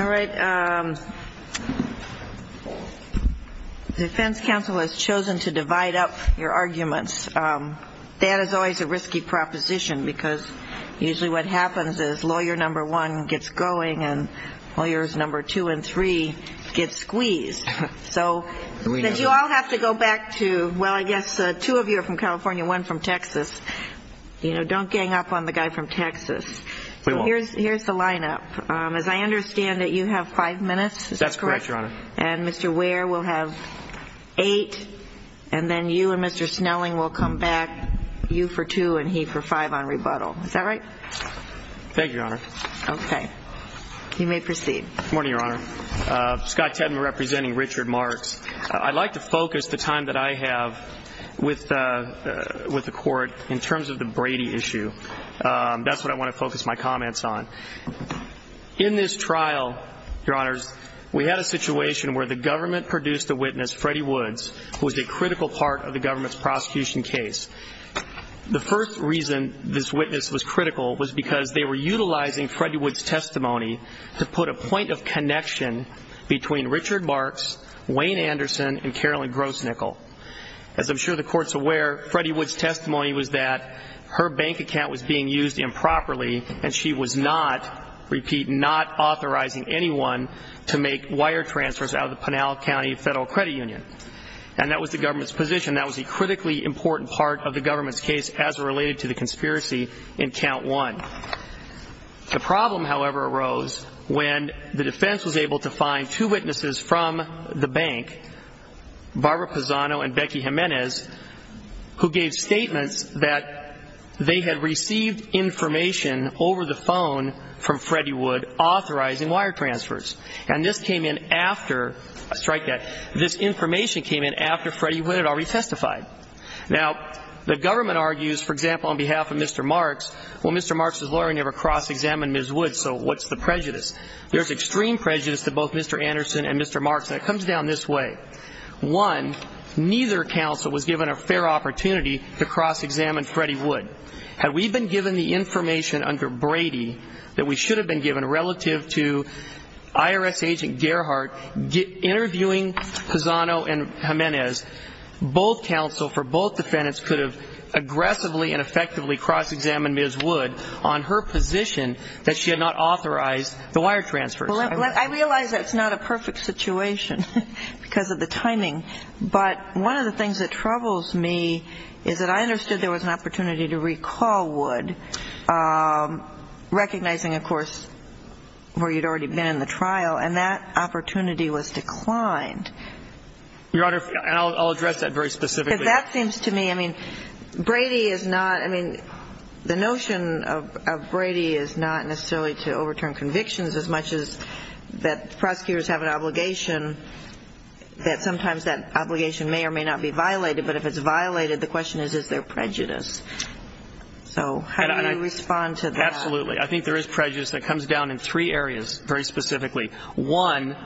All right. Defense counsel has chosen to divide up your arguments. That is always a risky proposition because usually what happens is lawyer number one gets going and lawyers number two and three get squeezed. So you all have to go back to, well, I guess two of you are from California, one from Texas. You know, don't gang up on the guy from Texas. We won't. Here's the line-up. As I understand it, you have five minutes. Is that correct? That's correct, Your Honor. And Mr. Ware will have eight and then you and Mr. Snelling will come back, you for two and he for five on rebuttal. Is that right? Thank you, Your Honor. Okay. You may proceed. Good morning, Your Honor. Scott Tedman representing Richard Marks. I'd like to focus the time that I have with the court in terms of the Brady issue. That's what I want to focus my comments on. In this trial, Your Honors, we had a situation where the government produced a witness, Freddie Woods, who was a critical part of the government's prosecution case. The first reason this witness was critical was because they were utilizing Freddie Woods' testimony to put a point of connection between Richard Marks, Wayne Anderson, and Carolyn Grosnickle. As I'm sure the Court's aware, Freddie Woods' testimony was that her bank account was being used improperly and she was not, repeat, not authorizing anyone to make wire transfers out of the Pinal County Federal Credit Union. And that was the government's position. That was a critically important part of the government's case as related to the conspiracy in count one. The problem, however, arose when the defense was able to find two witnesses from the bank, Barbara Pisano and Becky Jimenez, who gave statements that they had received information over the phone from Freddie Wood authorizing wire transfers. And this came in after, strike that, this information came in after Freddie Wood had already testified. Now, the government argues, for example, on behalf of Mr. Marks, well, Mr. Marks' lawyer never cross-examined Ms. Woods, so what's the prejudice? There's extreme prejudice to both Mr. Anderson and Mr. Marks, and it comes down this way. One, neither counsel was given a fair opportunity to cross-examine Freddie Wood. Had we been given the information under Brady that we should have been given relative to IRS agent Gerhardt interviewing Pisano and Jimenez, both counsel for both defendants could have aggressively and effectively cross-examined Ms. Wood on her position that she had not authorized the wire transfers. Well, I realize that's not a perfect situation because of the timing, but one of the things that troubles me is that I understood there was an opportunity to recall Wood, recognizing, of course, where you'd already been in the trial, and that opportunity was declined. Your Honor, and I'll address that very specifically. Because that seems to me, I mean, Brady is not, I mean, the notion of Brady is not necessarily to overturn convictions as much as that prosecutors have an obligation that sometimes that obligation may or may not be violated, but if it's violated, the question is, is there prejudice? So how do you respond to that? Absolutely. I think there is prejudice that comes down in three areas very specifically. One,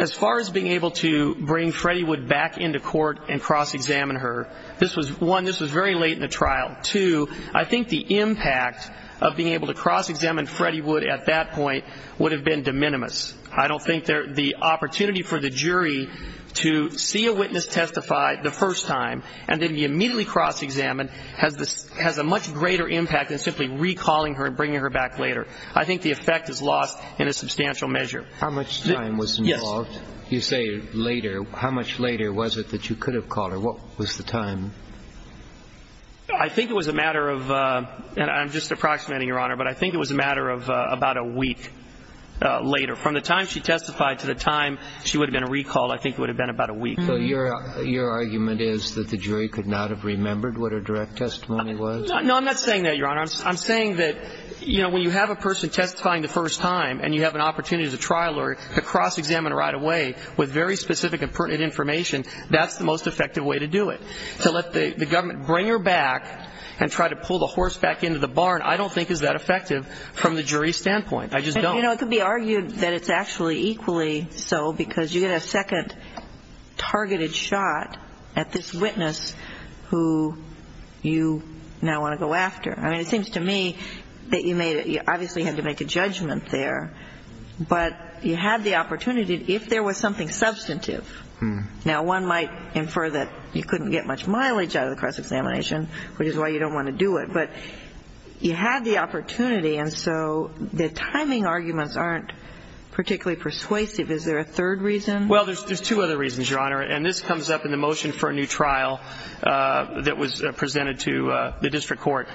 as far as being able to bring Freddie Wood back into court and cross-examine her, this was, one, this was very late in the trial. Two, I think the impact of being able to cross-examine Freddie Wood at that point would have been de minimis. I don't think the opportunity for the jury to see a witness testify the first time and then be immediately cross-examined has a much greater impact than simply recalling her and bringing her back later. I think the effect is lost in a substantial measure. How much time was involved? Yes. You say later. How much later was it that you could have called her? What was the time? I think it was a matter of, and I'm just approximating, Your Honor, but I think it was a matter of about a week later. From the time she testified to the time she would have been recalled, I think it would have been about a week. So your argument is that the jury could not have remembered what her direct testimony was? No, I'm not saying that, Your Honor. I'm saying that, you know, when you have a person testifying the first time and you have an opportunity to trial her, to cross-examine her right away with very specific and pertinent information, that's the most effective way to do it. To let the government bring her back and try to pull the horse back into the barn, I don't think is that effective from the jury's standpoint. I just don't. You know, it could be argued that it's actually equally so because you get a second targeted shot at this witness who you now want to go after. I mean, it seems to me that you obviously had to make a judgment there, but you had the opportunity if there was something substantive. Now, one might infer that you couldn't get much mileage out of the cross-examination, which is why you don't want to do it, but you had the opportunity. And so the timing arguments aren't particularly persuasive. Is there a third reason? Well, there's two other reasons, Your Honor, and this comes up in the motion for a new trial that was presented to the district court.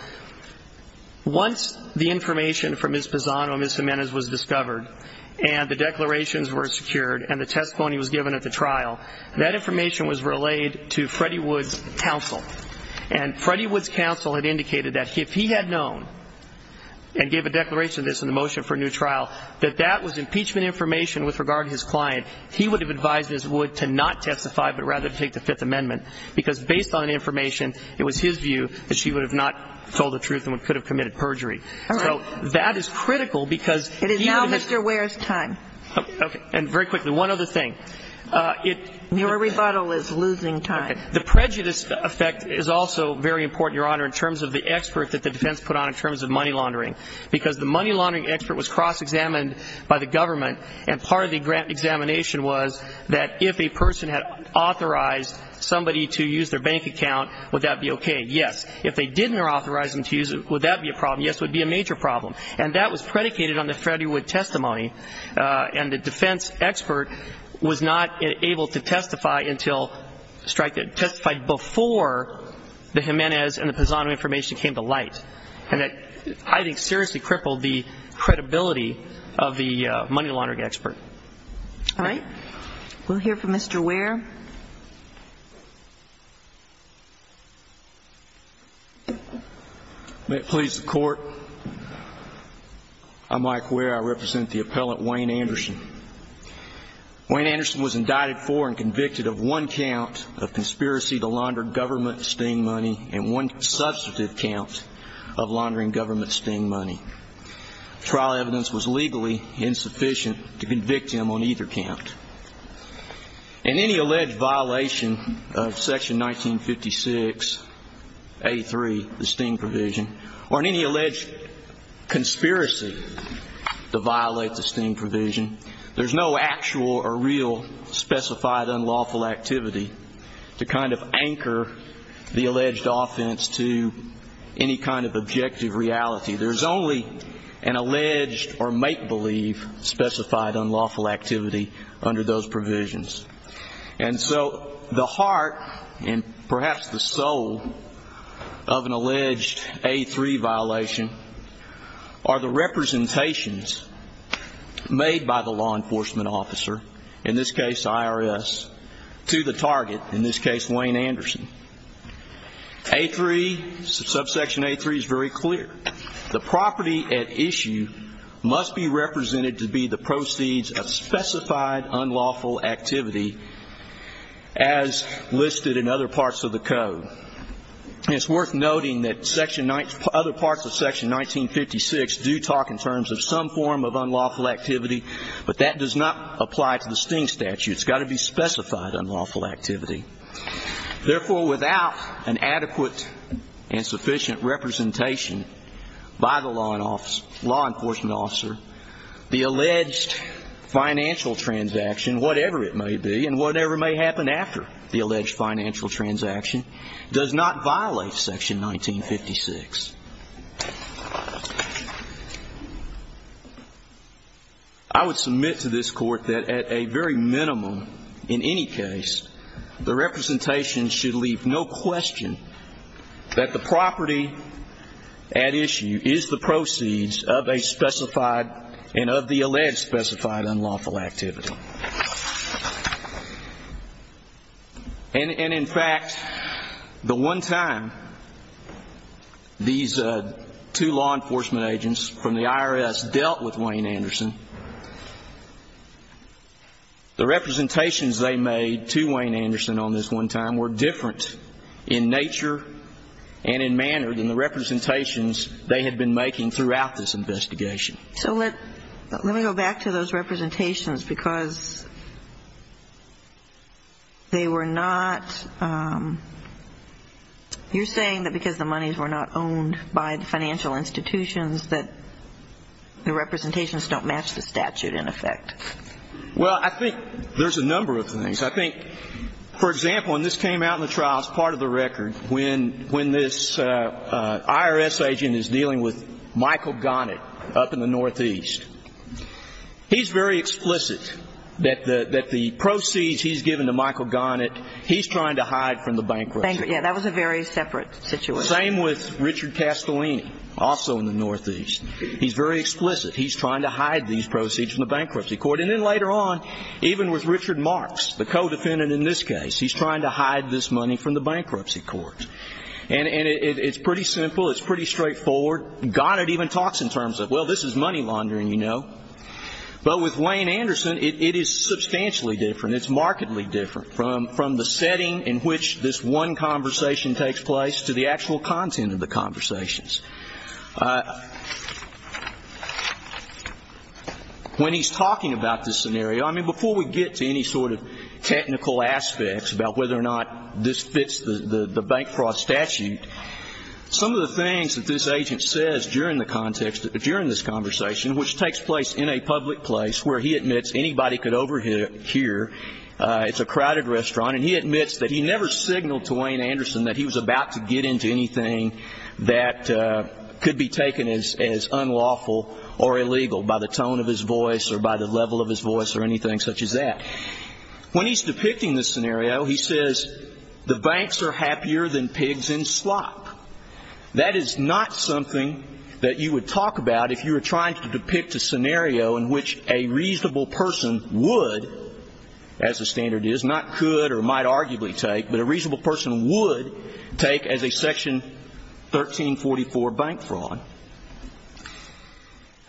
Once the information from Ms. Pisano and Ms. Jimenez was discovered and the declarations were secured and the testimony was given at the trial, that information was relayed to Freddie Wood's counsel. And Freddie Wood's counsel had indicated that if he had known and gave a declaration of this in the motion for a new trial, that that was impeachment information with regard to his client, he would have advised Ms. Wood to not testify, but rather to take the Fifth Amendment, because based on information, it was his view that she would have not told the truth and could have committed perjury. All right. So that is critical because he would have been It is now Mr. Ware's time. Okay. And very quickly, one other thing. Your rebuttal is losing time. The prejudice effect is also very important, Your Honor, in terms of the expert that the defense put on in terms of money laundering, because the money laundering expert was cross-examined by the government, and part of the grant examination was that if a person had authorized somebody to use their bank account, would that be okay? Yes. If they didn't authorize them to use it, would that be a problem? Yes, it would be a major problem. And that was predicated on the Freddie Wood testimony, and the defense expert was not able to testify until before the Jimenez and the Pisano information came to light, and that I think seriously crippled the credibility of the money laundering expert. All right. We'll hear from Mr. Ware. May it please the Court, I'm Mike Ware. I represent the appellant, Wayne Anderson. Wayne Anderson was indicted for and convicted of one count of conspiracy to launder government sting money and one substantive count of laundering government sting money. Trial evidence was legally insufficient to convict him on either count. In any alleged violation of Section 1956A3, the sting provision, or in any alleged conspiracy to violate the sting provision, there's no actual or real specified unlawful activity to kind of anchor the alleged offense to any kind of objective reality. There's only an alleged or make-believe specified unlawful activity under those provisions. And so the heart and perhaps the soul of an alleged A3 violation are the representations made by the law enforcement officer, in this case IRS, to the target, in this case Wayne Anderson. A3, subsection A3 is very clear. The property at issue must be represented to be the proceeds of specified unlawful activity as listed in other parts of the code. And it's worth noting that other parts of Section 1956 do talk in terms of some form of unlawful activity, but that does not apply to the sting statute. It's got to be specified unlawful activity. Therefore, without an adequate and sufficient representation by the law enforcement officer, the alleged financial transaction, whatever it may be and whatever may happen after the alleged financial transaction, does not violate Section 1956. I would submit to this court that at a very minimum, in any case, the representation should leave no question that the property at issue is the proceeds of a specified and of the alleged specified unlawful activity. And in fact, the one time these two law enforcement agents from the IRS dealt with Wayne Anderson, the representations they made to Wayne Anderson on this one time were different in nature and in manner than the representations they had been making throughout this investigation. So let me go back to those representations because they were not you're saying that because the monies were not owned by the financial institutions that the representations don't match the statute in effect. Well, I think there's a number of things. I think, for example, and this came out in the trial as part of the record, when this IRS agent is dealing with Michael Gonnett up in the northeast, he's very explicit that the proceeds he's given to Michael Gonnett, he's trying to hide from the bankruptcy. Yeah, that was a very separate situation. Same with Richard Castellini, also in the northeast. He's very explicit. He's trying to hide these proceeds from the bankruptcy court. And then later on, even with Richard Marks, the co-defendant in this case, he's trying to hide this money from the bankruptcy court. And it's pretty simple. It's pretty straightforward. Gonnett even talks in terms of, well, this is money laundering, you know. But with Wayne Anderson, it is substantially different. It's markedly different from the setting in which this one conversation takes place to the actual content of the conversations. When he's talking about this scenario, I mean, before we get to any sort of technical aspects about whether or not this fits the bank fraud statute, some of the things that this agent says during the context, during this conversation, which takes place in a public place where he admits anybody could overhear, it's a crowded restaurant, and he admits that he never signaled to Wayne Anderson that he was about to get into anything that could be taken as unlawful or illegal by the tone of his voice or by the level of his voice or anything such as that. When he's depicting this scenario, he says, the banks are happier than pigs in slop. That is not something that you would talk about if you were trying to depict a scenario in which a reasonable person would, as the standard is, not could or might arguably take, but a reasonable person would take as a Section 1344 bank fraud.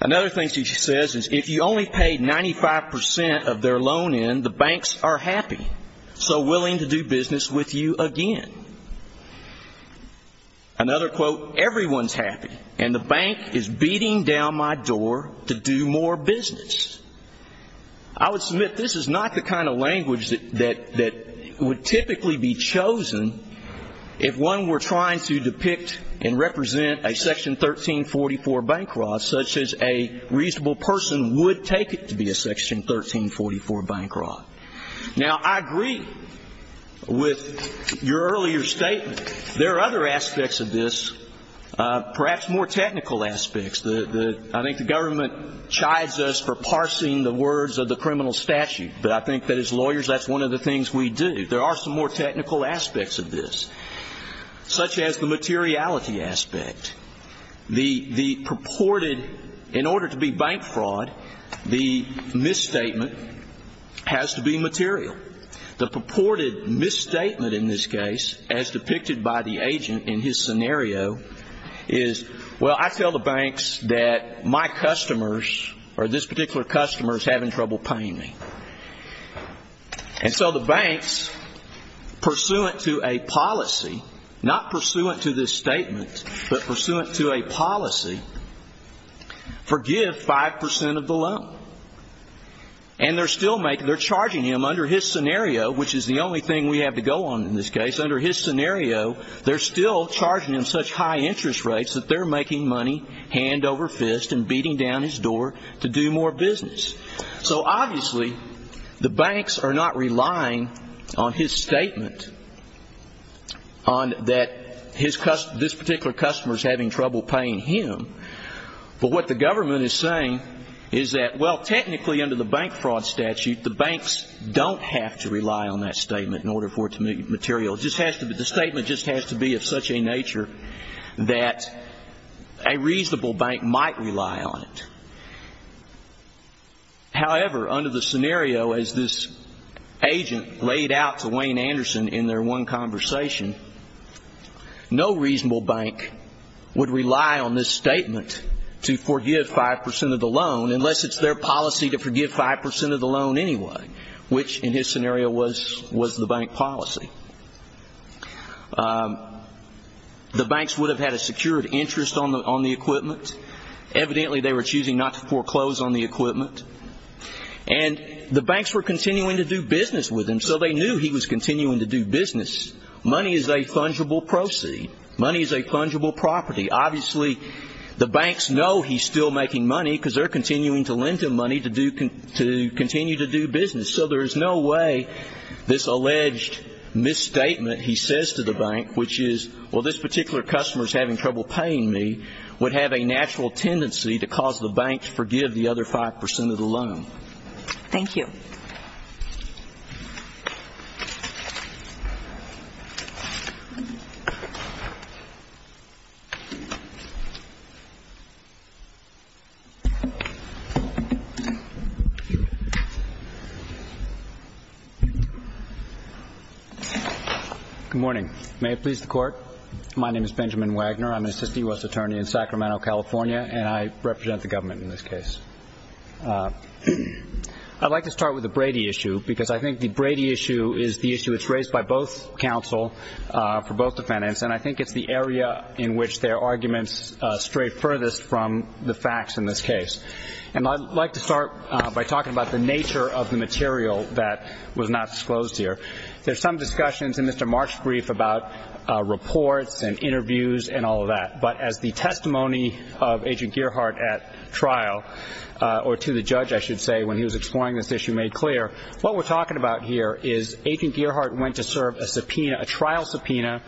Another thing he says is if you only paid 95% of their loan in, the banks are happy, so willing to do business with you again. Another quote, everyone's happy, and the bank is beating down my door to do more business. I would submit this is not the kind of language that would typically be chosen if one were trying to depict and represent a Section 1344 bank fraud such as a reasonable person would take it to be a Section 1344 bank fraud. Now, I agree with your earlier statement. There are other aspects of this, perhaps more technical aspects. I think the government chides us for parsing the words of the criminal statute, but I think that as lawyers that's one of the things we do. There are some more technical aspects of this, such as the materiality aspect. The purported, in order to be bank fraud, the misstatement has to be material. The purported misstatement in this case, as depicted by the agent in his scenario, is, well, I tell the banks that my customers or this particular customer is having trouble paying me. And so the banks, pursuant to a policy, not pursuant to this statement, but pursuant to a policy, forgive 5% of the loan. And they're still charging him under his scenario, which is the only thing we have to go on in this case. Under his scenario, they're still charging him such high interest rates that they're making money hand over fist and beating down his door to do more business. So, obviously, the banks are not relying on his statement, on that this particular customer is having trouble paying him. But what the government is saying is that, well, technically under the bank fraud statute, the banks don't have to rely on that statement in order for it to be material. The statement just has to be of such a nature that a reasonable bank might rely on it. However, under the scenario, as this agent laid out to Wayne Anderson in their one conversation, no reasonable bank would rely on this statement to forgive 5% of the loan unless it's their policy to forgive 5% of the loan anyway, which in his scenario was the bank policy. The banks would have had a secured interest on the equipment. Evidently, they were choosing not to foreclose on the equipment. And the banks were continuing to do business with him, so they knew he was continuing to do business. Money is a fungible proceed. Money is a fungible property. Obviously, the banks know he's still making money because they're continuing to lend him money to continue to do business. So there's no way this alleged misstatement he says to the bank, which is, well, this particular customer is having trouble paying me, would have a natural tendency to cause the bank to forgive the other 5% of the loan. Thank you. Good morning. May it please the Court, my name is Benjamin Wagner. I'm an assistant U.S. attorney in Sacramento, California, and I represent the government in this case. I'd like to start with the Brady issue because I think the Brady issue is the issue that's raised by both counsel for both defendants, and I think it's the area in which their arguments stray furthest from the facts in this case. And I'd like to start by talking about the nature of the material that was not disclosed here. There's some discussions in Mr. Mark's brief about reports and interviews and all of that, but as the testimony of Agent Gearhart at trial, or to the judge, I should say, when he was exploring this issue made clear, what we're talking about here is Agent Gearhart went to serve a trial subpoena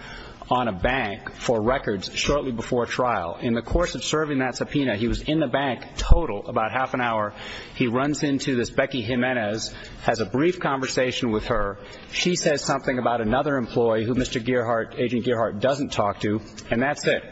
on a bank for records shortly before trial. In the course of serving that subpoena, he was in the bank total about half an hour. He runs into this Becky Jimenez, has a brief conversation with her. She says something about another employee who Agent Gearhart doesn't talk to, and that's it.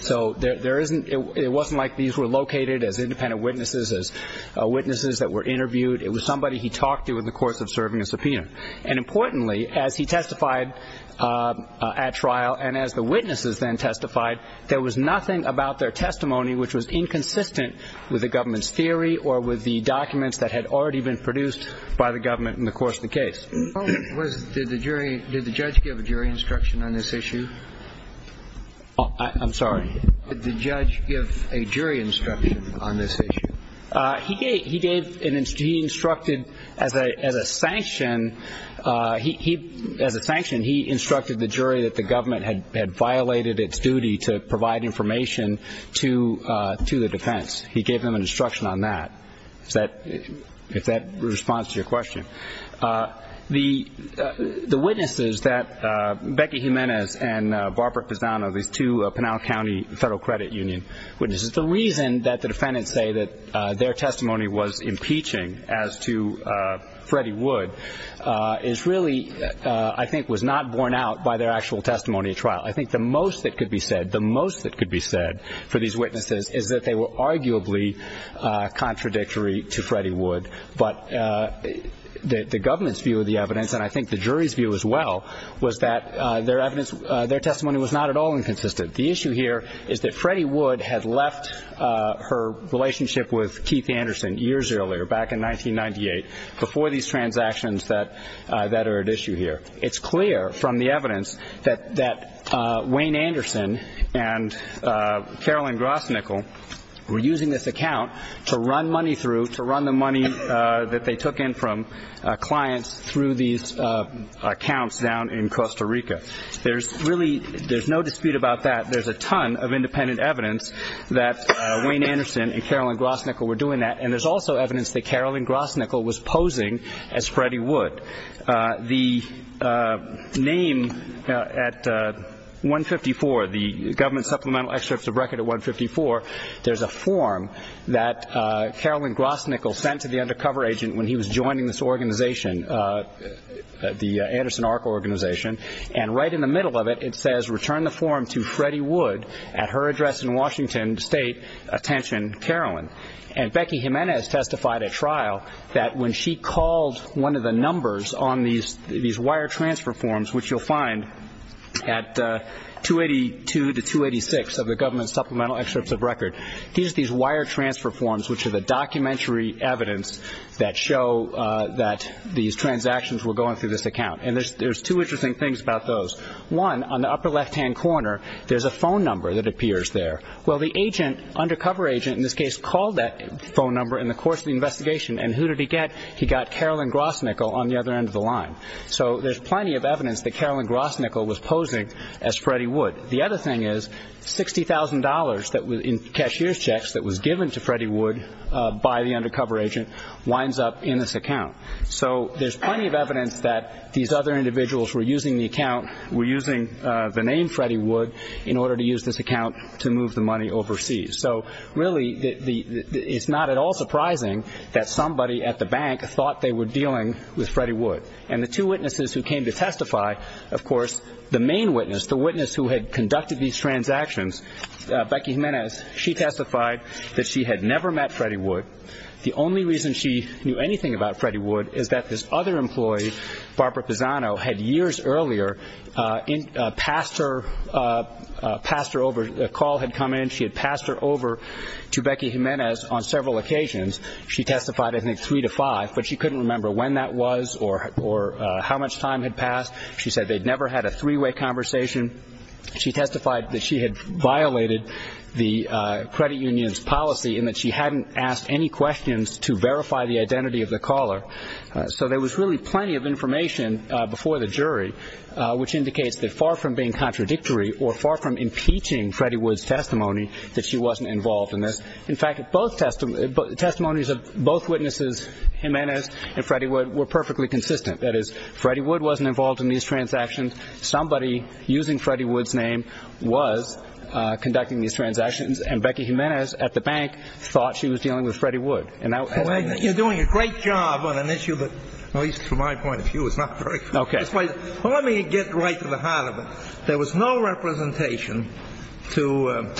So it wasn't like these were located as independent witnesses, as witnesses that were interviewed. It was somebody he talked to in the course of serving a subpoena. And importantly, as he testified at trial and as the witnesses then testified, there was nothing about their testimony which was inconsistent with the government's theory or with the documents that had already been produced by the government in the course of the case. Did the jury, did the judge give a jury instruction on this issue? I'm sorry. Did the judge give a jury instruction on this issue? He gave, he gave, he instructed as a sanction, he, as a sanction, he instructed the jury that the government had violated its duty to provide information to the defense. He gave them an instruction on that, if that responds to your question. The witnesses that Becky Jimenez and Barbara Pisano, these two Pinal County Federal Credit Union witnesses, the reason that the defendants say that their testimony was impeaching as to Freddie Wood is really, I think, was not borne out by their actual testimony at trial. I think the most that could be said, the most that could be said for these witnesses is that they were arguably contradictory to Freddie Wood. But the government's view of the evidence, and I think the jury's view as well, was that their evidence, their testimony was not at all inconsistent. The issue here is that Freddie Wood had left her relationship with Keith Anderson years earlier, back in 1998, before these transactions that are at issue here. It's clear from the evidence that Wayne Anderson and Carolyn Grosnickle were using this account to run money through, to run the money that they took in from clients through these accounts down in Costa Rica. There's really, there's no dispute about that. There's a ton of independent evidence that Wayne Anderson and Carolyn Grosnickle were doing that, and there's also evidence that Carolyn Grosnickle was posing as Freddie Wood. The name at 154, the government supplemental excerpt to the record at 154, there's a form that Carolyn Grosnickle sent to the undercover agent when he was joining this organization, the Anderson ARCA organization. And right in the middle of it, it says, Return the form to Freddie Wood at her address in Washington State. Attention, Carolyn. And Becky Jimenez testified at trial that when she called one of the numbers on these wire transfer forms, which you'll find at 282 to 286 of the government supplemental excerpts of record, these wire transfer forms, which are the documentary evidence that show that these transactions were going through this account. And there's two interesting things about those. One, on the upper left-hand corner, there's a phone number that appears there. Well, the agent, undercover agent in this case, called that phone number in the course of the investigation. And who did he get? He got Carolyn Grosnickle on the other end of the line. So there's plenty of evidence that Carolyn Grosnickle was posing as Freddie Wood. The other thing is $60,000 in cashier's checks that was given to Freddie Wood by the undercover agent winds up in this account. So there's plenty of evidence that these other individuals were using the account, were using the name Freddie Wood in order to use this account to move the money overseas. So, really, it's not at all surprising that somebody at the bank thought they were dealing with Freddie Wood. And the two witnesses who came to testify, of course, the main witness, the witness who had conducted these transactions, Becky Jimenez, she testified that she had never met Freddie Wood. The only reason she knew anything about Freddie Wood is that this other employee, Barbara Pisano, had years earlier passed her over, a call had come in, she had passed her over to Becky Jimenez on several occasions. She testified, I think, three to five, but she couldn't remember when that was or how much time had passed. She said they'd never had a three-way conversation. She testified that she had violated the credit union's policy and that she hadn't asked any questions to verify the identity of the caller. So there was really plenty of information before the jury, which indicates that far from being contradictory or far from impeaching Freddie Wood's testimony, that she wasn't involved in this. In fact, both testimonies of both witnesses, Jimenez and Freddie Wood, were perfectly consistent. That is, Freddie Wood wasn't involved in these transactions. Somebody using Freddie Wood's name was conducting these transactions. And Becky Jimenez at the bank thought she was dealing with Freddie Wood. You're doing a great job on an issue that, at least from my point of view, is not very good. Let me get right to the heart of it. There was no representation to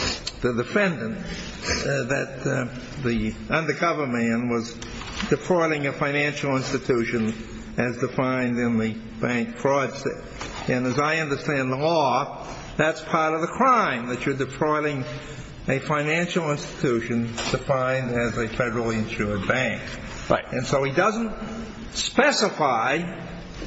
the defendant that the undercover man was defrauding a financial institution as defined in the bank fraud suit. And as I understand the law, that's part of the crime, that you're defrauding a financial institution defined as a federally insured bank. Right. And so he doesn't specify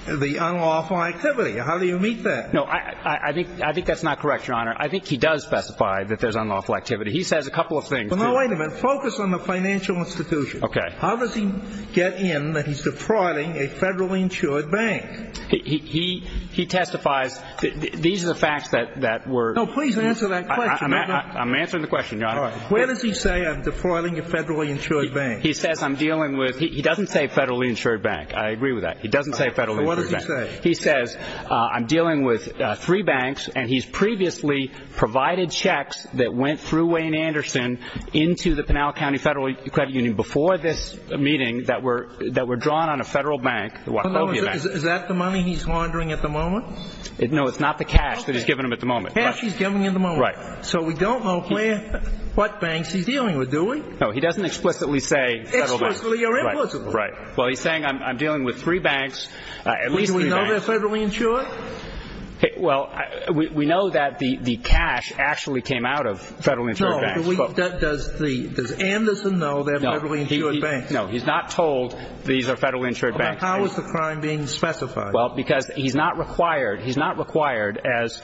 the unlawful activity. How do you meet that? No, I think that's not correct, Your Honor. I think he does specify that there's unlawful activity. He says a couple of things. Well, no, wait a minute. Focus on the financial institution. Okay. How does he get in that he's defrauding a federally insured bank? He testifies that these are the facts that were – No, please answer that question. I'm answering the question, Your Honor. All right. Where does he say I'm defrauding a federally insured bank? He says I'm dealing with – he doesn't say federally insured bank. I agree with that. He doesn't say federally insured bank. So what does he say? He says I'm dealing with three banks, and he's previously provided checks that went through Wayne Anderson into the Pinal County Federal Credit Union before this meeting that were drawn on a federal bank, the Wachlovia Bank. Is that the money he's laundering at the moment? No, it's not the cash that he's giving them at the moment. Okay. Cash he's giving them at the moment. Right. So we don't know, Claire, what banks he's dealing with, do we? No, he doesn't explicitly say federal banks. Explicitly or implicitly? Right. Well, he's saying I'm dealing with three banks, at least three banks. Are they federally insured? Well, we know that the cash actually came out of federally insured banks. No. Does the – does Anderson know they're federally insured banks? No. He's not told these are federally insured banks. How is the crime being specified? Well, because he's not required – he's not required, as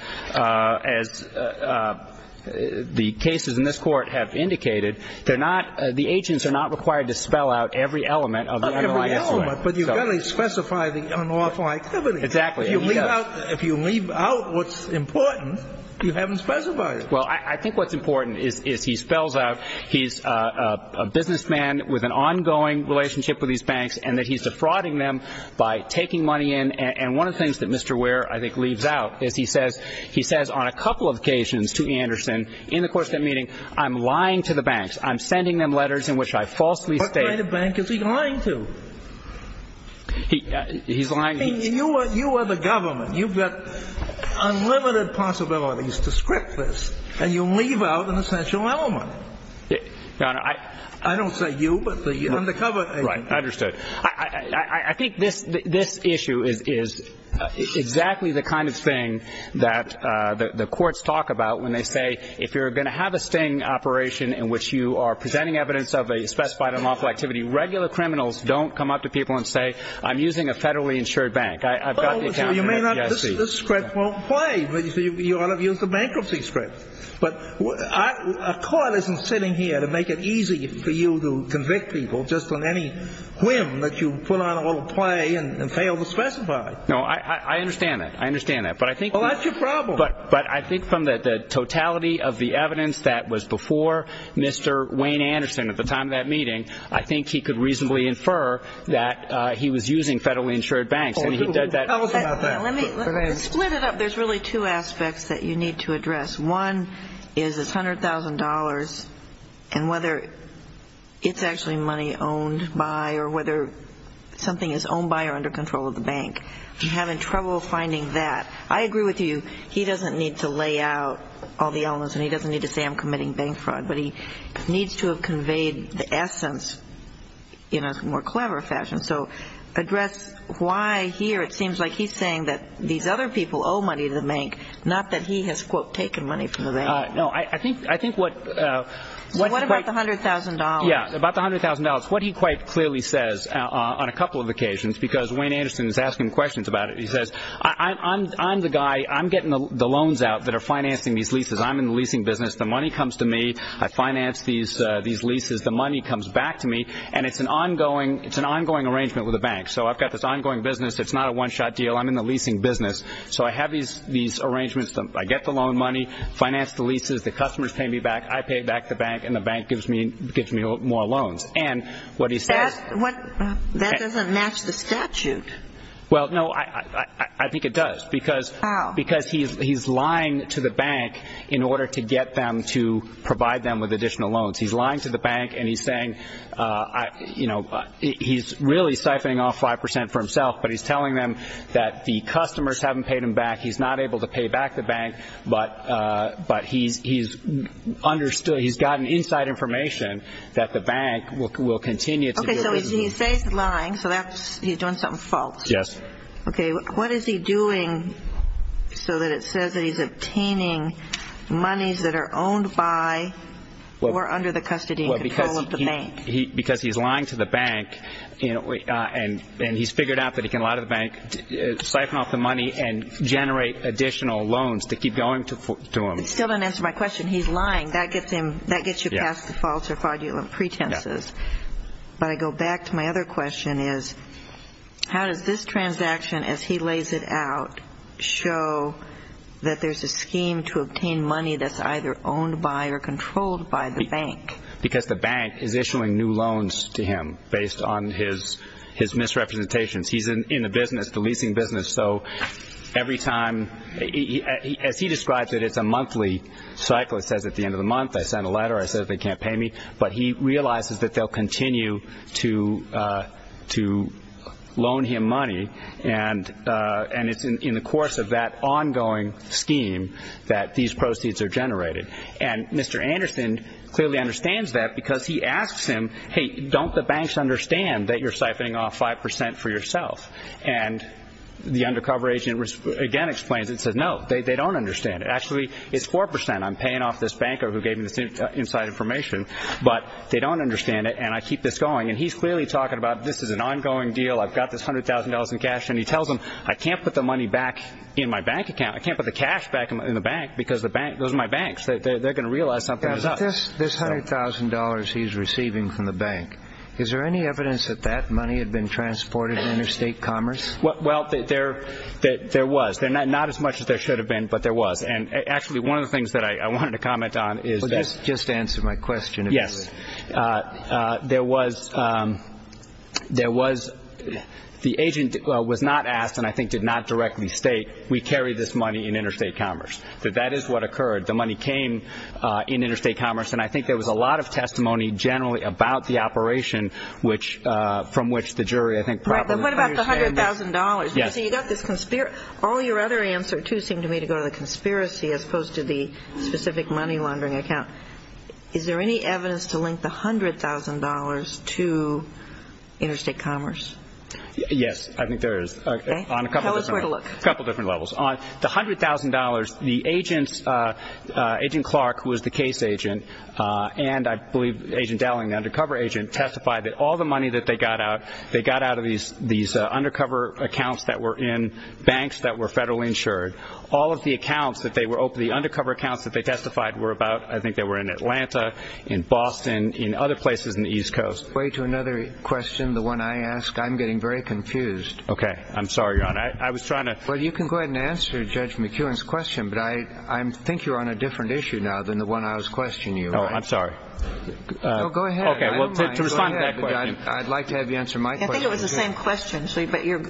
the cases in this Court have indicated, they're not – the agents are not required to spell out every element of the unlawful activity. That's right. But you've got to specify the unlawful activity. Exactly. And he does. If you leave out what's important, you haven't specified it. Well, I think what's important is he spells out he's a businessman with an ongoing relationship with these banks and that he's defrauding them by taking money in. And one of the things that Mr. Ware, I think, leaves out is he says – he says on a couple of occasions to Anderson in the course of that meeting, I'm lying to the banks, I'm sending them letters in which I falsely state – He's lying. You are the government. You've got unlimited possibilities to script this, and you leave out an essential element. Your Honor, I – I don't say you, but the undercover agent. Right. Understood. I think this issue is exactly the kind of thing that the courts talk about when they say if you're going to have a sting operation in which you are presenting evidence of a specified unlawful activity, regular criminals don't come up to people and say, I'm using a federally insured bank. I've got the account. You may not – this script won't play. You ought to use the bankruptcy script. But a court isn't sitting here to make it easy for you to convict people just on any whim that you put on a little play and fail to specify. No, I understand that. I understand that. But I think – Well, that's your problem. But I think from the totality of the evidence that was before Mr. Wayne Anderson at the time of that meeting, I think he could reasonably infer that he was using federally insured banks. And he did that – Tell us about that. Split it up. There's really two aspects that you need to address. One is it's $100,000, and whether it's actually money owned by or whether something is owned by or under control of the bank. You're having trouble finding that. I agree with you. He doesn't need to lay out all the elements, and he doesn't need to say I'm committing bank fraud. But he needs to have conveyed the essence in a more clever fashion. So address why here it seems like he's saying that these other people owe money to the bank, not that he has, quote, taken money from the bank. No, I think what – So what about the $100,000? Yeah, about the $100,000. What he quite clearly says on a couple of occasions, because Wayne Anderson is asking questions about it, he says, I'm the guy, I'm getting the loans out that are financing these leases. I'm in the leasing business. The money comes to me. I finance these leases. The money comes back to me, and it's an ongoing arrangement with the bank. So I've got this ongoing business. It's not a one-shot deal. I'm in the leasing business. So I have these arrangements. I get the loan money, finance the leases. The customers pay me back. I pay back the bank, and the bank gives me more loans. And what he says – That doesn't match the statute. Well, no, I think it does. How? Because he's lying to the bank in order to get them to provide them with additional loans. He's lying to the bank, and he's saying, you know, he's really siphoning off 5 percent for himself, but he's telling them that the customers haven't paid him back. He's not able to pay back the bank, but he's understood. He's gotten inside information that the bank will continue to do business. Okay, so he says he's lying, so he's doing something false. Yes. Okay, what is he doing so that it says that he's obtaining monies that are owned by or under the custody and control of the bank? Because he's lying to the bank, and he's figured out that he can lie to the bank, siphon off the money, and generate additional loans to keep going to him. It still doesn't answer my question. He's lying. That gets you past the false or fraudulent pretenses. But I go back to my other question is, how does this transaction, as he lays it out, show that there's a scheme to obtain money that's either owned by or controlled by the bank? Because the bank is issuing new loans to him based on his misrepresentations. He's in the business, the leasing business. So every time, as he describes it, it's a monthly cycle. It says at the end of the month, I send a letter, I say they can't pay me. But he realizes that they'll continue to loan him money, and it's in the course of that ongoing scheme that these proceeds are generated. And Mr. Anderson clearly understands that because he asks him, hey, don't the banks understand that you're siphoning off 5 percent for yourself? And the undercover agent again explains it and says, no, they don't understand it. Actually, it's 4 percent I'm paying off this banker who gave me this inside information. But they don't understand it, and I keep this going. And he's clearly talking about this is an ongoing deal. I've got this $100,000 in cash. And he tells them, I can't put the money back in my bank account. I can't put the cash back in the bank because those are my banks. They're going to realize something is up. This $100,000 he's receiving from the bank, is there any evidence that that money had been transported in interstate commerce? Well, there was. Not as much as there should have been, but there was. And actually, one of the things that I wanted to comment on is that. Just answer my question. Yes. There was the agent was not asked, and I think did not directly state, we carry this money in interstate commerce, that that is what occurred. The money came in interstate commerce, and I think there was a lot of testimony generally about the operation from which the jury I think probably. Right, but what about the $100,000? Yes. So you've got this conspiracy. All your other answers, too, seem to me to go to the conspiracy as opposed to the specific money laundering account. Is there any evidence to link the $100,000 to interstate commerce? Yes, I think there is. Okay. Tell us where to look. A couple different levels. On the $100,000, the agents, Agent Clark, who was the case agent, and I believe Agent Dowling, the undercover agent, testified that all the money that they got out, they got out of these undercover accounts that were in banks that were federally insured. All of the accounts that they were open, the undercover accounts that they testified were about, I think they were in Atlanta, in Boston, in other places in the East Coast. Way to another question, the one I ask. I'm getting very confused. Okay. I'm sorry, Your Honor. I was trying to. Well, you can go ahead and answer Judge McKeown's question, but I think you're on a different issue now than the one I was questioning you. Oh, I'm sorry. Go ahead. Okay. Well, to respond to that question. I'd like to have you answer my question. I think it was the same question, but you're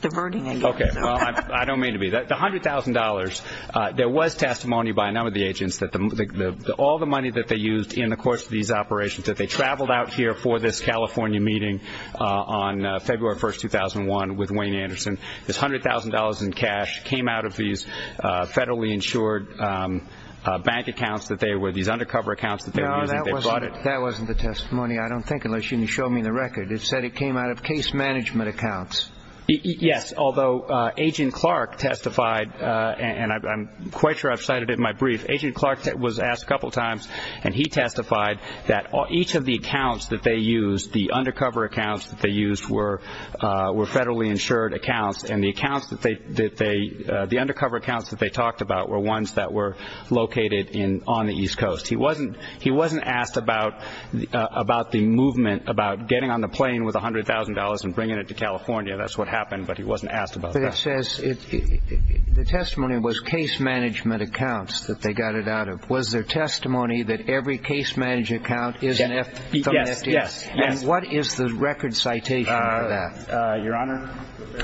diverting it. Okay. Well, I don't mean to be. The $100,000, there was testimony by none of the agents that all the money that they used in the course of these operations, that they traveled out here for this California meeting on February 1, 2001, with Wayne Anderson. This $100,000 in cash came out of these federally insured bank accounts that they were, these undercover accounts that they were using. That wasn't the testimony, I don't think, unless you can show me the record. It said it came out of case management accounts. Yes, although Agent Clark testified, and I'm quite sure I've cited it in my brief. Agent Clark was asked a couple times, and he testified that each of the accounts that they used, the undercover accounts that they used were federally insured accounts, and the undercover accounts that they talked about were ones that were located on the East Coast. He wasn't asked about the movement, about getting on the plane with $100,000 and bringing it to California. That's what happened, but he wasn't asked about that. But it says the testimony was case management accounts that they got it out of. Was there testimony that every case management account is an FDIC? Yes. And what is the record citation for that? Your Honor?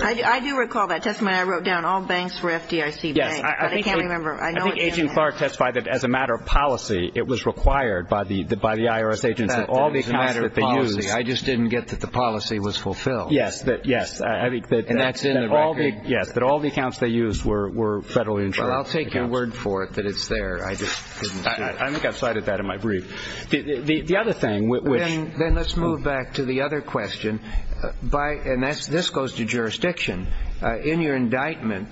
I do recall that testimony. I wrote down all banks were FDIC banks, but I can't remember. I think Agent Clark testified that as a matter of policy it was required by the IRS agents that all the accounts that they used. I just didn't get that the policy was fulfilled. Yes. And that's in the record? Yes, that all the accounts they used were federally insured. Well, I'll take your word for it that it's there. I just didn't get it. I think I've cited that in my brief. The other thing, which – Then let's move back to the other question, and this goes to jurisdiction. In your indictment,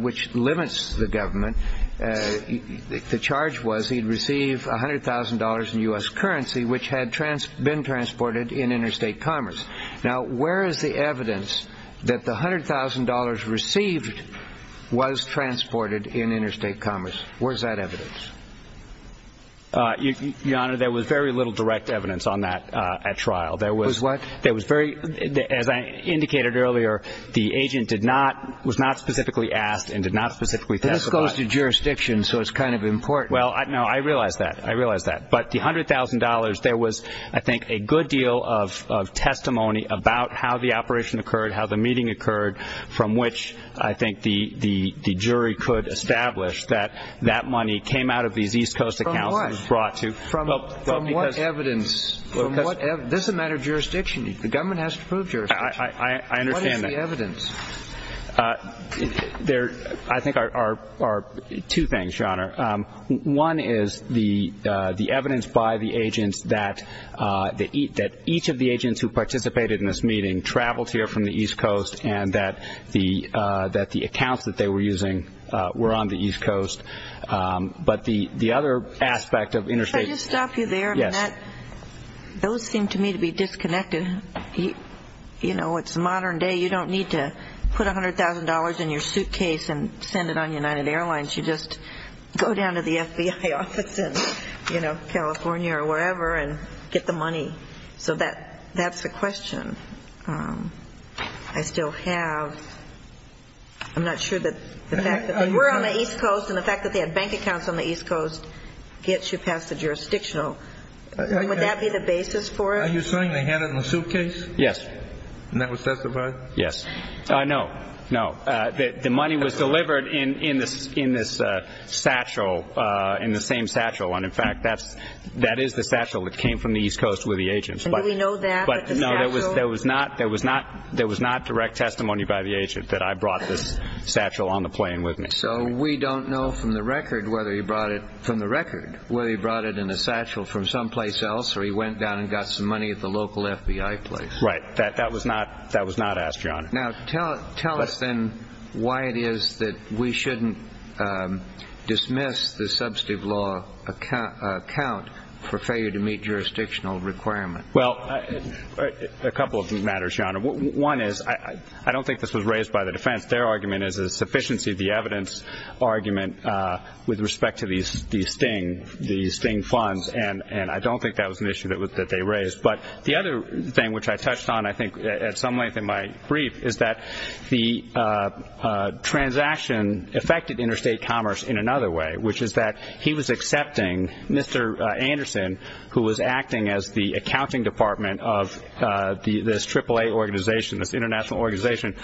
which limits the government, the charge was he'd receive $100,000 in U.S. currency, which had been transported in interstate commerce. Now, where is the evidence that the $100,000 received was transported in interstate commerce? Where is that evidence? Your Honor, there was very little direct evidence on that at trial. There was what? As I indicated earlier, the agent was not specifically asked and did not specifically testify. This goes to jurisdiction, so it's kind of important. Well, no, I realize that. I realize that. But the $100,000, there was, I think, a good deal of testimony about how the operation occurred, how the meeting occurred, from which I think the jury could establish that that money came out of these East Coast accounts. From what? From what evidence? This is a matter of jurisdiction. The government has to prove jurisdiction. I understand that. What is the evidence? There, I think, are two things, Your Honor. One is the evidence by the agents that each of the agents who participated in this meeting traveled here from the East Coast and that the accounts that they were using were on the East Coast. But the other aspect of interstate – those seem to me to be disconnected. You know, it's modern day. You don't need to put $100,000 in your suitcase and send it on United Airlines. You just go down to the FBI office in, you know, California or wherever and get the money. So that's the question. I still have – I'm not sure that the fact that they were on the East Coast and the fact that they had bank accounts on the East Coast gets you past the jurisdictional. Would that be the basis for it? Are you saying they had it in the suitcase? Yes. And that was testified? Yes. No, no. The money was delivered in this satchel, in the same satchel. And, in fact, that is the satchel that came from the East Coast with the agents. And do we know that? But, no, there was not direct testimony by the agent that I brought this satchel on the plane with me. So we don't know from the record whether he brought it in a satchel from someplace else or he went down and got some money at the local FBI place. Right. That was not asked, Your Honor. Now, tell us then why it is that we shouldn't dismiss the substantive law account for failure to meet jurisdictional requirement. Well, a couple of matters, Your Honor. One is – I don't think this was raised by the defense. Their argument is a sufficiency of the evidence argument with respect to the Sting funds, and I don't think that was an issue that they raised. But the other thing which I touched on, I think, at some length in my brief, is that the transaction affected interstate commerce in another way, which is that he was accepting Mr. Anderson, who was acting as the accounting department of this AAA organization, this international organization,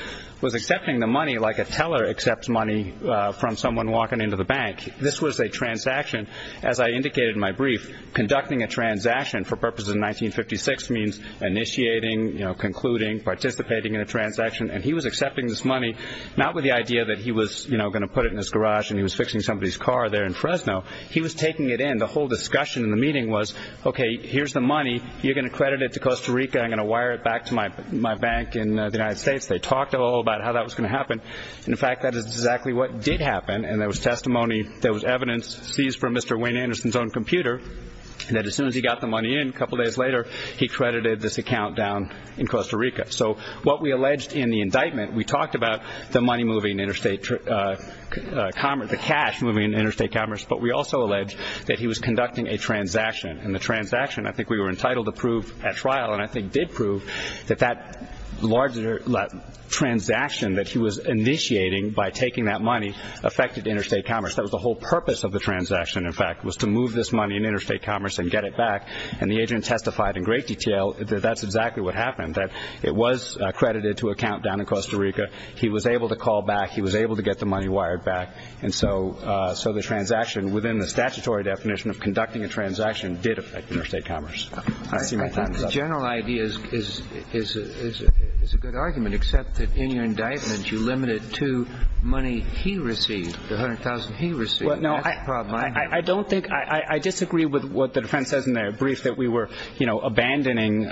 was accepting the money like a teller accepts money from someone walking into the bank. This was a transaction, as I indicated in my brief, conducting a transaction for purposes of 1956 means initiating, concluding, participating in a transaction. And he was accepting this money not with the idea that he was going to put it in his garage and he was fixing somebody's car there in Fresno. He was taking it in. The whole discussion in the meeting was, okay, here's the money. You're going to credit it to Costa Rica. I'm going to wire it back to my bank in the United States. They talked a little about how that was going to happen. In fact, that is exactly what did happen, and there was testimony, there was evidence seized from Mr. Wayne Anderson's own computer that as soon as he got the money in, a couple days later, he credited this account down in Costa Rica. So what we alleged in the indictment, we talked about the money moving interstate commerce, the cash moving interstate commerce, but we also alleged that he was conducting a transaction, and the transaction I think we were entitled to prove at trial, and I think did prove that that transaction that he was initiating by taking that money affected interstate commerce. That was the whole purpose of the transaction, in fact, was to move this money in interstate commerce and get it back. And the agent testified in great detail that that's exactly what happened, that it was credited to an account down in Costa Rica. He was able to call back. He was able to get the money wired back. And so the transaction within the statutory definition of conducting a transaction did affect interstate commerce. I think the general idea is a good argument, except that in your indictment you limited to money he received, the $100,000 he received. That's the problem. I disagree with what the defense says in their brief, that we were abandoning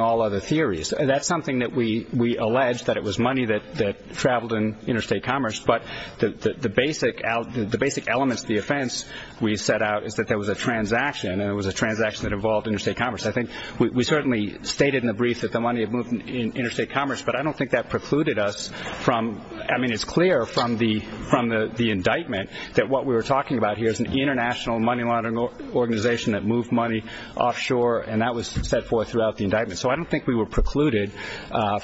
all other theories. That's something that we alleged, that it was money that traveled in interstate commerce, but the basic elements of the offense we set out is that there was a transaction, and it was a transaction that involved interstate commerce. I think we certainly stated in the brief that the money had moved in interstate commerce, but I don't think that precluded us from, I mean, it's clear from the indictment that what we were talking about here is an international money laundering organization that moved money offshore, and that was set forth throughout the indictment. So I don't think we were precluded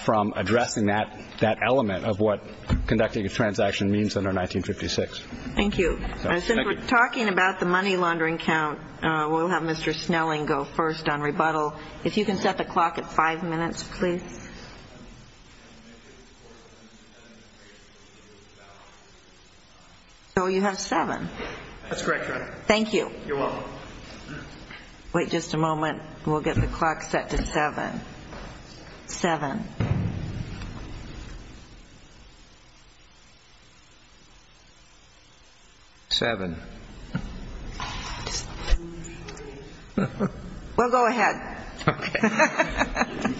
from addressing that element of what conducting a transaction means under 1956. Thank you. Since we're talking about the money laundering count, we'll have Mr. Snelling go first on rebuttal. If you can set the clock at five minutes, please. So you have seven. That's correct, Your Honor. Thank you. You're welcome. Wait just a moment. We'll get the clock set to seven. Seven. We'll go ahead. Okay.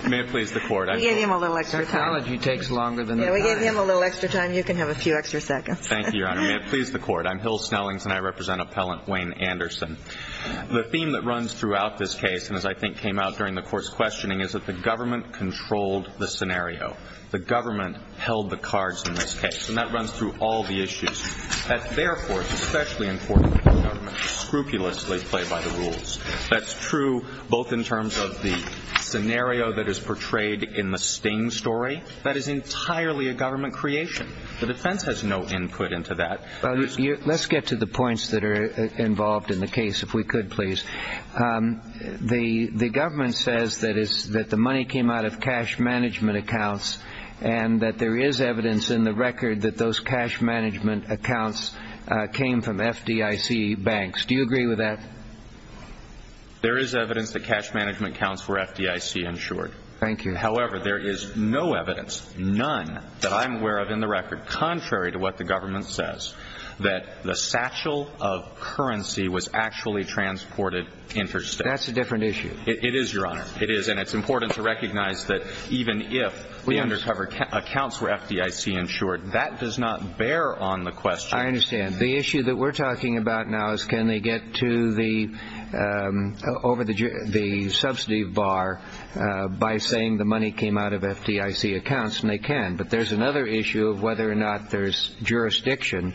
May it please the Court. We gave him a little extra time. Psychology takes longer than it does. Yeah, we gave him a little extra time. You can have a few extra seconds. Thank you, Your Honor. May it please the Court. I'm Hill Snellings, and I represent Appellant Wayne Anderson. The theme that runs throughout this case, and as I think came out during the Court's questioning, is that the government controlled the scenario. The government held the cards in this case, and that runs through all the issues. That, therefore, is especially important for the government to scrupulously play by the rules. That's true both in terms of the scenario that is portrayed in the sting story. That is entirely a government creation. The defense has no input into that. Let's get to the points that are involved in the case, if we could, please. The government says that the money came out of cash management accounts and that there is evidence in the record that those cash management accounts came from FDIC banks. Do you agree with that? There is evidence that cash management accounts were FDIC-insured. Thank you. However, there is no evidence, none, that I'm aware of in the record, contrary to what the government says, that the satchel of currency was actually transported interstate. That's a different issue. It is, Your Honor. It is. Again, it's important to recognize that even if the undercover accounts were FDIC-insured, that does not bear on the question. I understand. The issue that we're talking about now is can they get to the subsidy bar by saying the money came out of FDIC accounts, and they can, but there's another issue of whether or not there's jurisdiction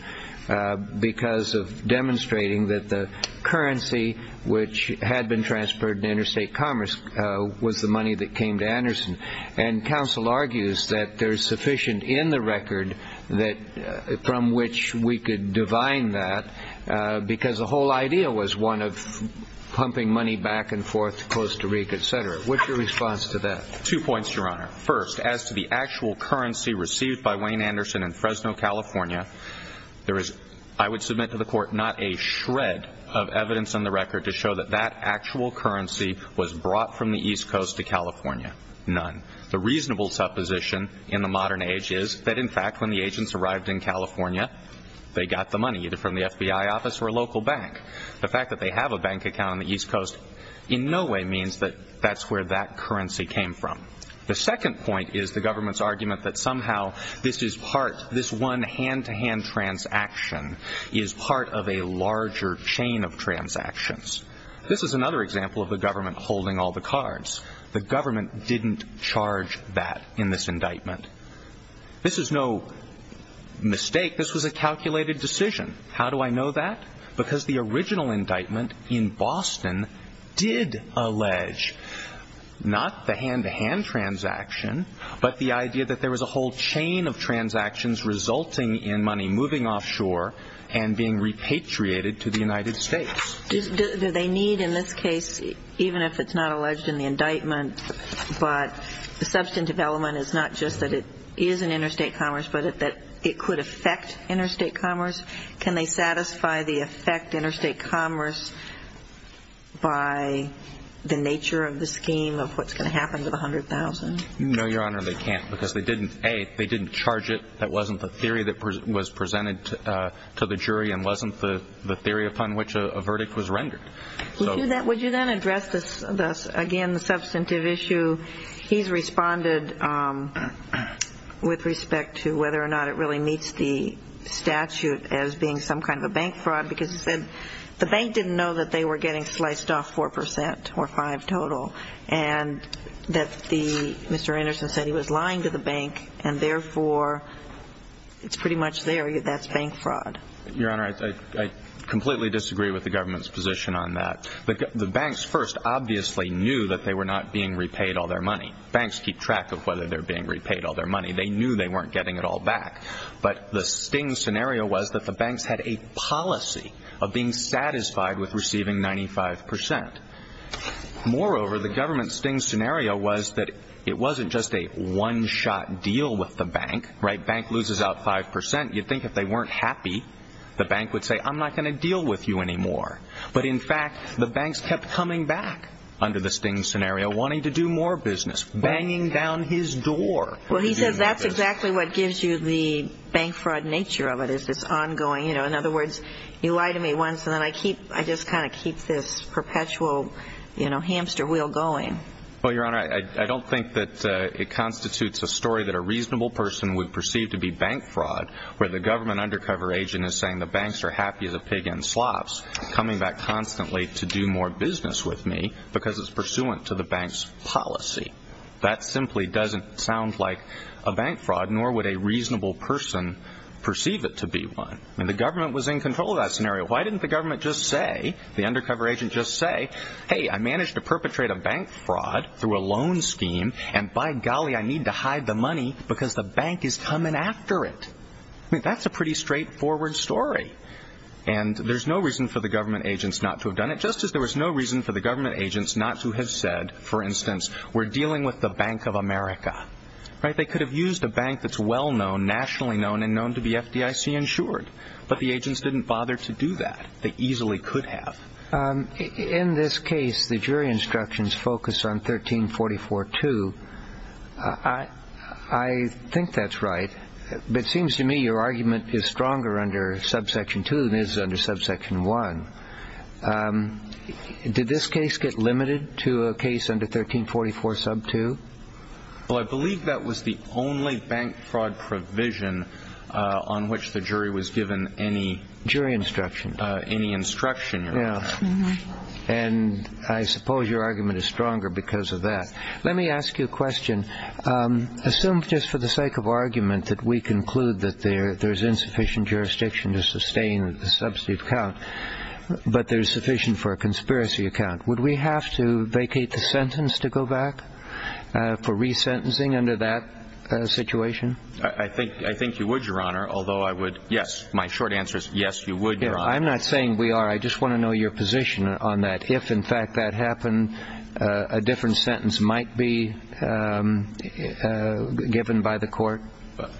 because of demonstrating that the currency, which had been transferred in interstate commerce, was the money that came to Anderson. And counsel argues that there's sufficient in the record from which we could divine that because the whole idea was one of pumping money back and forth to Costa Rica, et cetera. What's your response to that? Two points, Your Honor. First, as to the actual currency received by Wayne Anderson in Fresno, California, there is, I would submit to the Court, not a shred of evidence in the record to show that that actual currency was brought from the East Coast to California. None. The reasonable supposition in the modern age is that, in fact, when the agents arrived in California, they got the money either from the FBI office or a local bank. The fact that they have a bank account on the East Coast in no way means that that's where that currency came from. The second point is the government's argument that somehow this one hand-to-hand transaction is part of a larger chain of transactions. This is another example of the government holding all the cards. The government didn't charge that in this indictment. This is no mistake. This was a calculated decision. How do I know that? Because the original indictment in Boston did allege not the hand-to-hand transaction, but the idea that there was a whole chain of transactions resulting in money moving offshore and being repatriated to the United States. Do they need, in this case, even if it's not alleged in the indictment, but substantive element is not just that it is an interstate commerce, but that it could affect interstate commerce? Can they satisfy the effect interstate commerce by the nature of the scheme of what's going to happen to the $100,000? No, Your Honor, they can't because they didn't, A, they didn't charge it. That wasn't the theory that was presented to the jury and wasn't the theory upon which a verdict was rendered. Would you then address, again, the substantive issue? He's responded with respect to whether or not it really meets the statute as being some kind of a bank fraud because he said the bank didn't know that they were getting sliced off 4% or 5% total and that Mr. Anderson said he was lying to the bank and, therefore, it's pretty much there. That's bank fraud. Your Honor, I completely disagree with the government's position on that. The banks first obviously knew that they were not being repaid all their money. Banks keep track of whether they're being repaid all their money. They knew they weren't getting it all back, but the sting scenario was that the banks had a policy of being satisfied with receiving 95%. Moreover, the government's sting scenario was that it wasn't just a one-shot deal with the bank, right? Bank loses out 5%. You'd think if they weren't happy, the bank would say, I'm not going to deal with you anymore. But, in fact, the banks kept coming back under the sting scenario wanting to do more business, banging down his door. Well, he says that's exactly what gives you the bank fraud nature of it is this ongoing, you know, in other words, you lie to me once and then I just kind of keep this perpetual, you know, hamster wheel going. Well, Your Honor, I don't think that it constitutes a story that a reasonable person would perceive to be bank fraud where the government undercover agent is saying the banks are happy as a pig in slops. Coming back constantly to do more business with me because it's pursuant to the bank's policy. That simply doesn't sound like a bank fraud, nor would a reasonable person perceive it to be one. And the government was in control of that scenario. Why didn't the government just say, the undercover agent just say, hey, I managed to perpetrate a bank fraud through a loan scheme, and by golly, I need to hide the money because the bank is coming after it. I mean, that's a pretty straightforward story. And there's no reason for the government agents not to have done it, just as there was no reason for the government agents not to have said, for instance, we're dealing with the Bank of America. They could have used a bank that's well known, nationally known and known to be FDIC insured. But the agents didn't bother to do that. They easily could have. In this case, the jury instructions focus on 1344-2. I think that's right. But it seems to me your argument is stronger under subsection 2 than it is under subsection 1. Did this case get limited to a case under 1344-2? Well, I believe that was the only bank fraud provision on which the jury was given any instruction. And I suppose your argument is stronger because of that. Let me ask you a question. Assume, just for the sake of argument, that we conclude that there's insufficient jurisdiction to sustain a subsidy account, but there's sufficient for a conspiracy account. Would we have to vacate the sentence to go back for resentencing under that situation? I think you would, Your Honor, although I would, yes. My short answer is yes, you would, Your Honor. I'm not saying we are. I just want to know your position on that. If, in fact, that happened, a different sentence might be given by the court?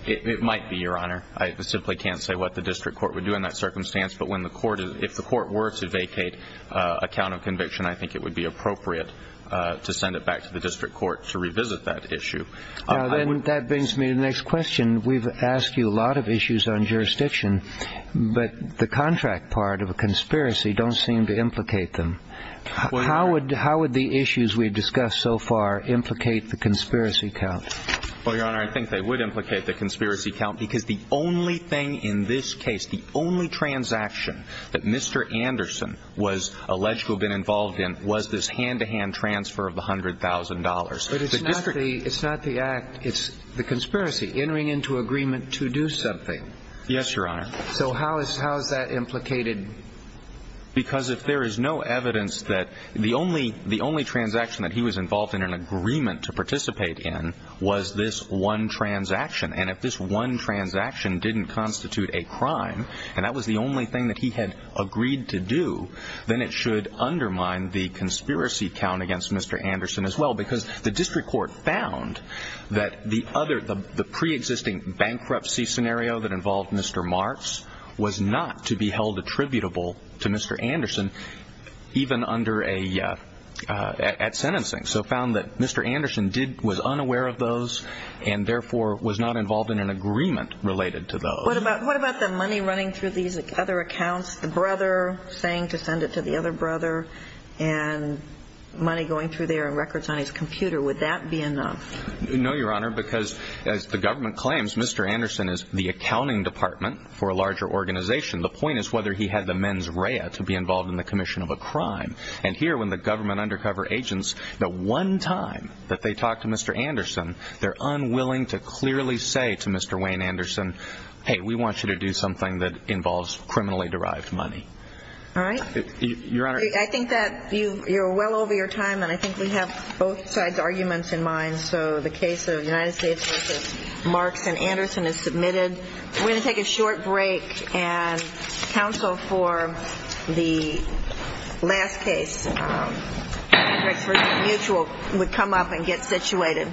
It might be, Your Honor. I simply can't say what the district court would do in that circumstance. But if the court were to vacate a count of conviction, I think it would be appropriate to send it back to the district court to revisit that issue. That brings me to the next question. We've asked you a lot of issues on jurisdiction, but the contract part of a conspiracy don't seem to implicate them. How would the issues we've discussed so far implicate the conspiracy count? Well, Your Honor, I think they would implicate the conspiracy count because the only thing in this case, the only transaction that Mr. Anderson was alleged to have been involved in was this hand-to-hand transfer of the $100,000. But it's not the act. It's the conspiracy, entering into agreement to do something. Yes, Your Honor. So how is that implicated? Because if there is no evidence that the only transaction that he was involved in, an agreement to participate in, was this one transaction, and if this one transaction didn't constitute a crime and that was the only thing that he had agreed to do, then it should undermine the conspiracy count against Mr. Anderson as well because the district court found that the pre-existing bankruptcy scenario that involved Mr. Marks was not to be held attributable to Mr. Anderson, even at sentencing, so found that Mr. Anderson was unaware of those and therefore was not involved in an agreement related to those. What about the money running through these other accounts, the brother saying to send it to the other brother, and money going through there and records on his computer? Would that be enough? No, Your Honor, because as the government claims, Mr. Anderson is the accounting department for a larger organization. The point is whether he had the mens rea to be involved in the commission of a crime. And here, when the government undercover agents, the one time that they talk to Mr. Anderson, they're unwilling to clearly say to Mr. Wayne Anderson, hey, we want you to do something that involves criminally derived money. All right. Your Honor. I think that you're well over your time, and I think we have both sides' arguments in mind, so the case of United States v. Marks and Anderson is submitted. We're going to take a short break and counsel for the last case, Hendricks v. Mutual, would come up and get situated.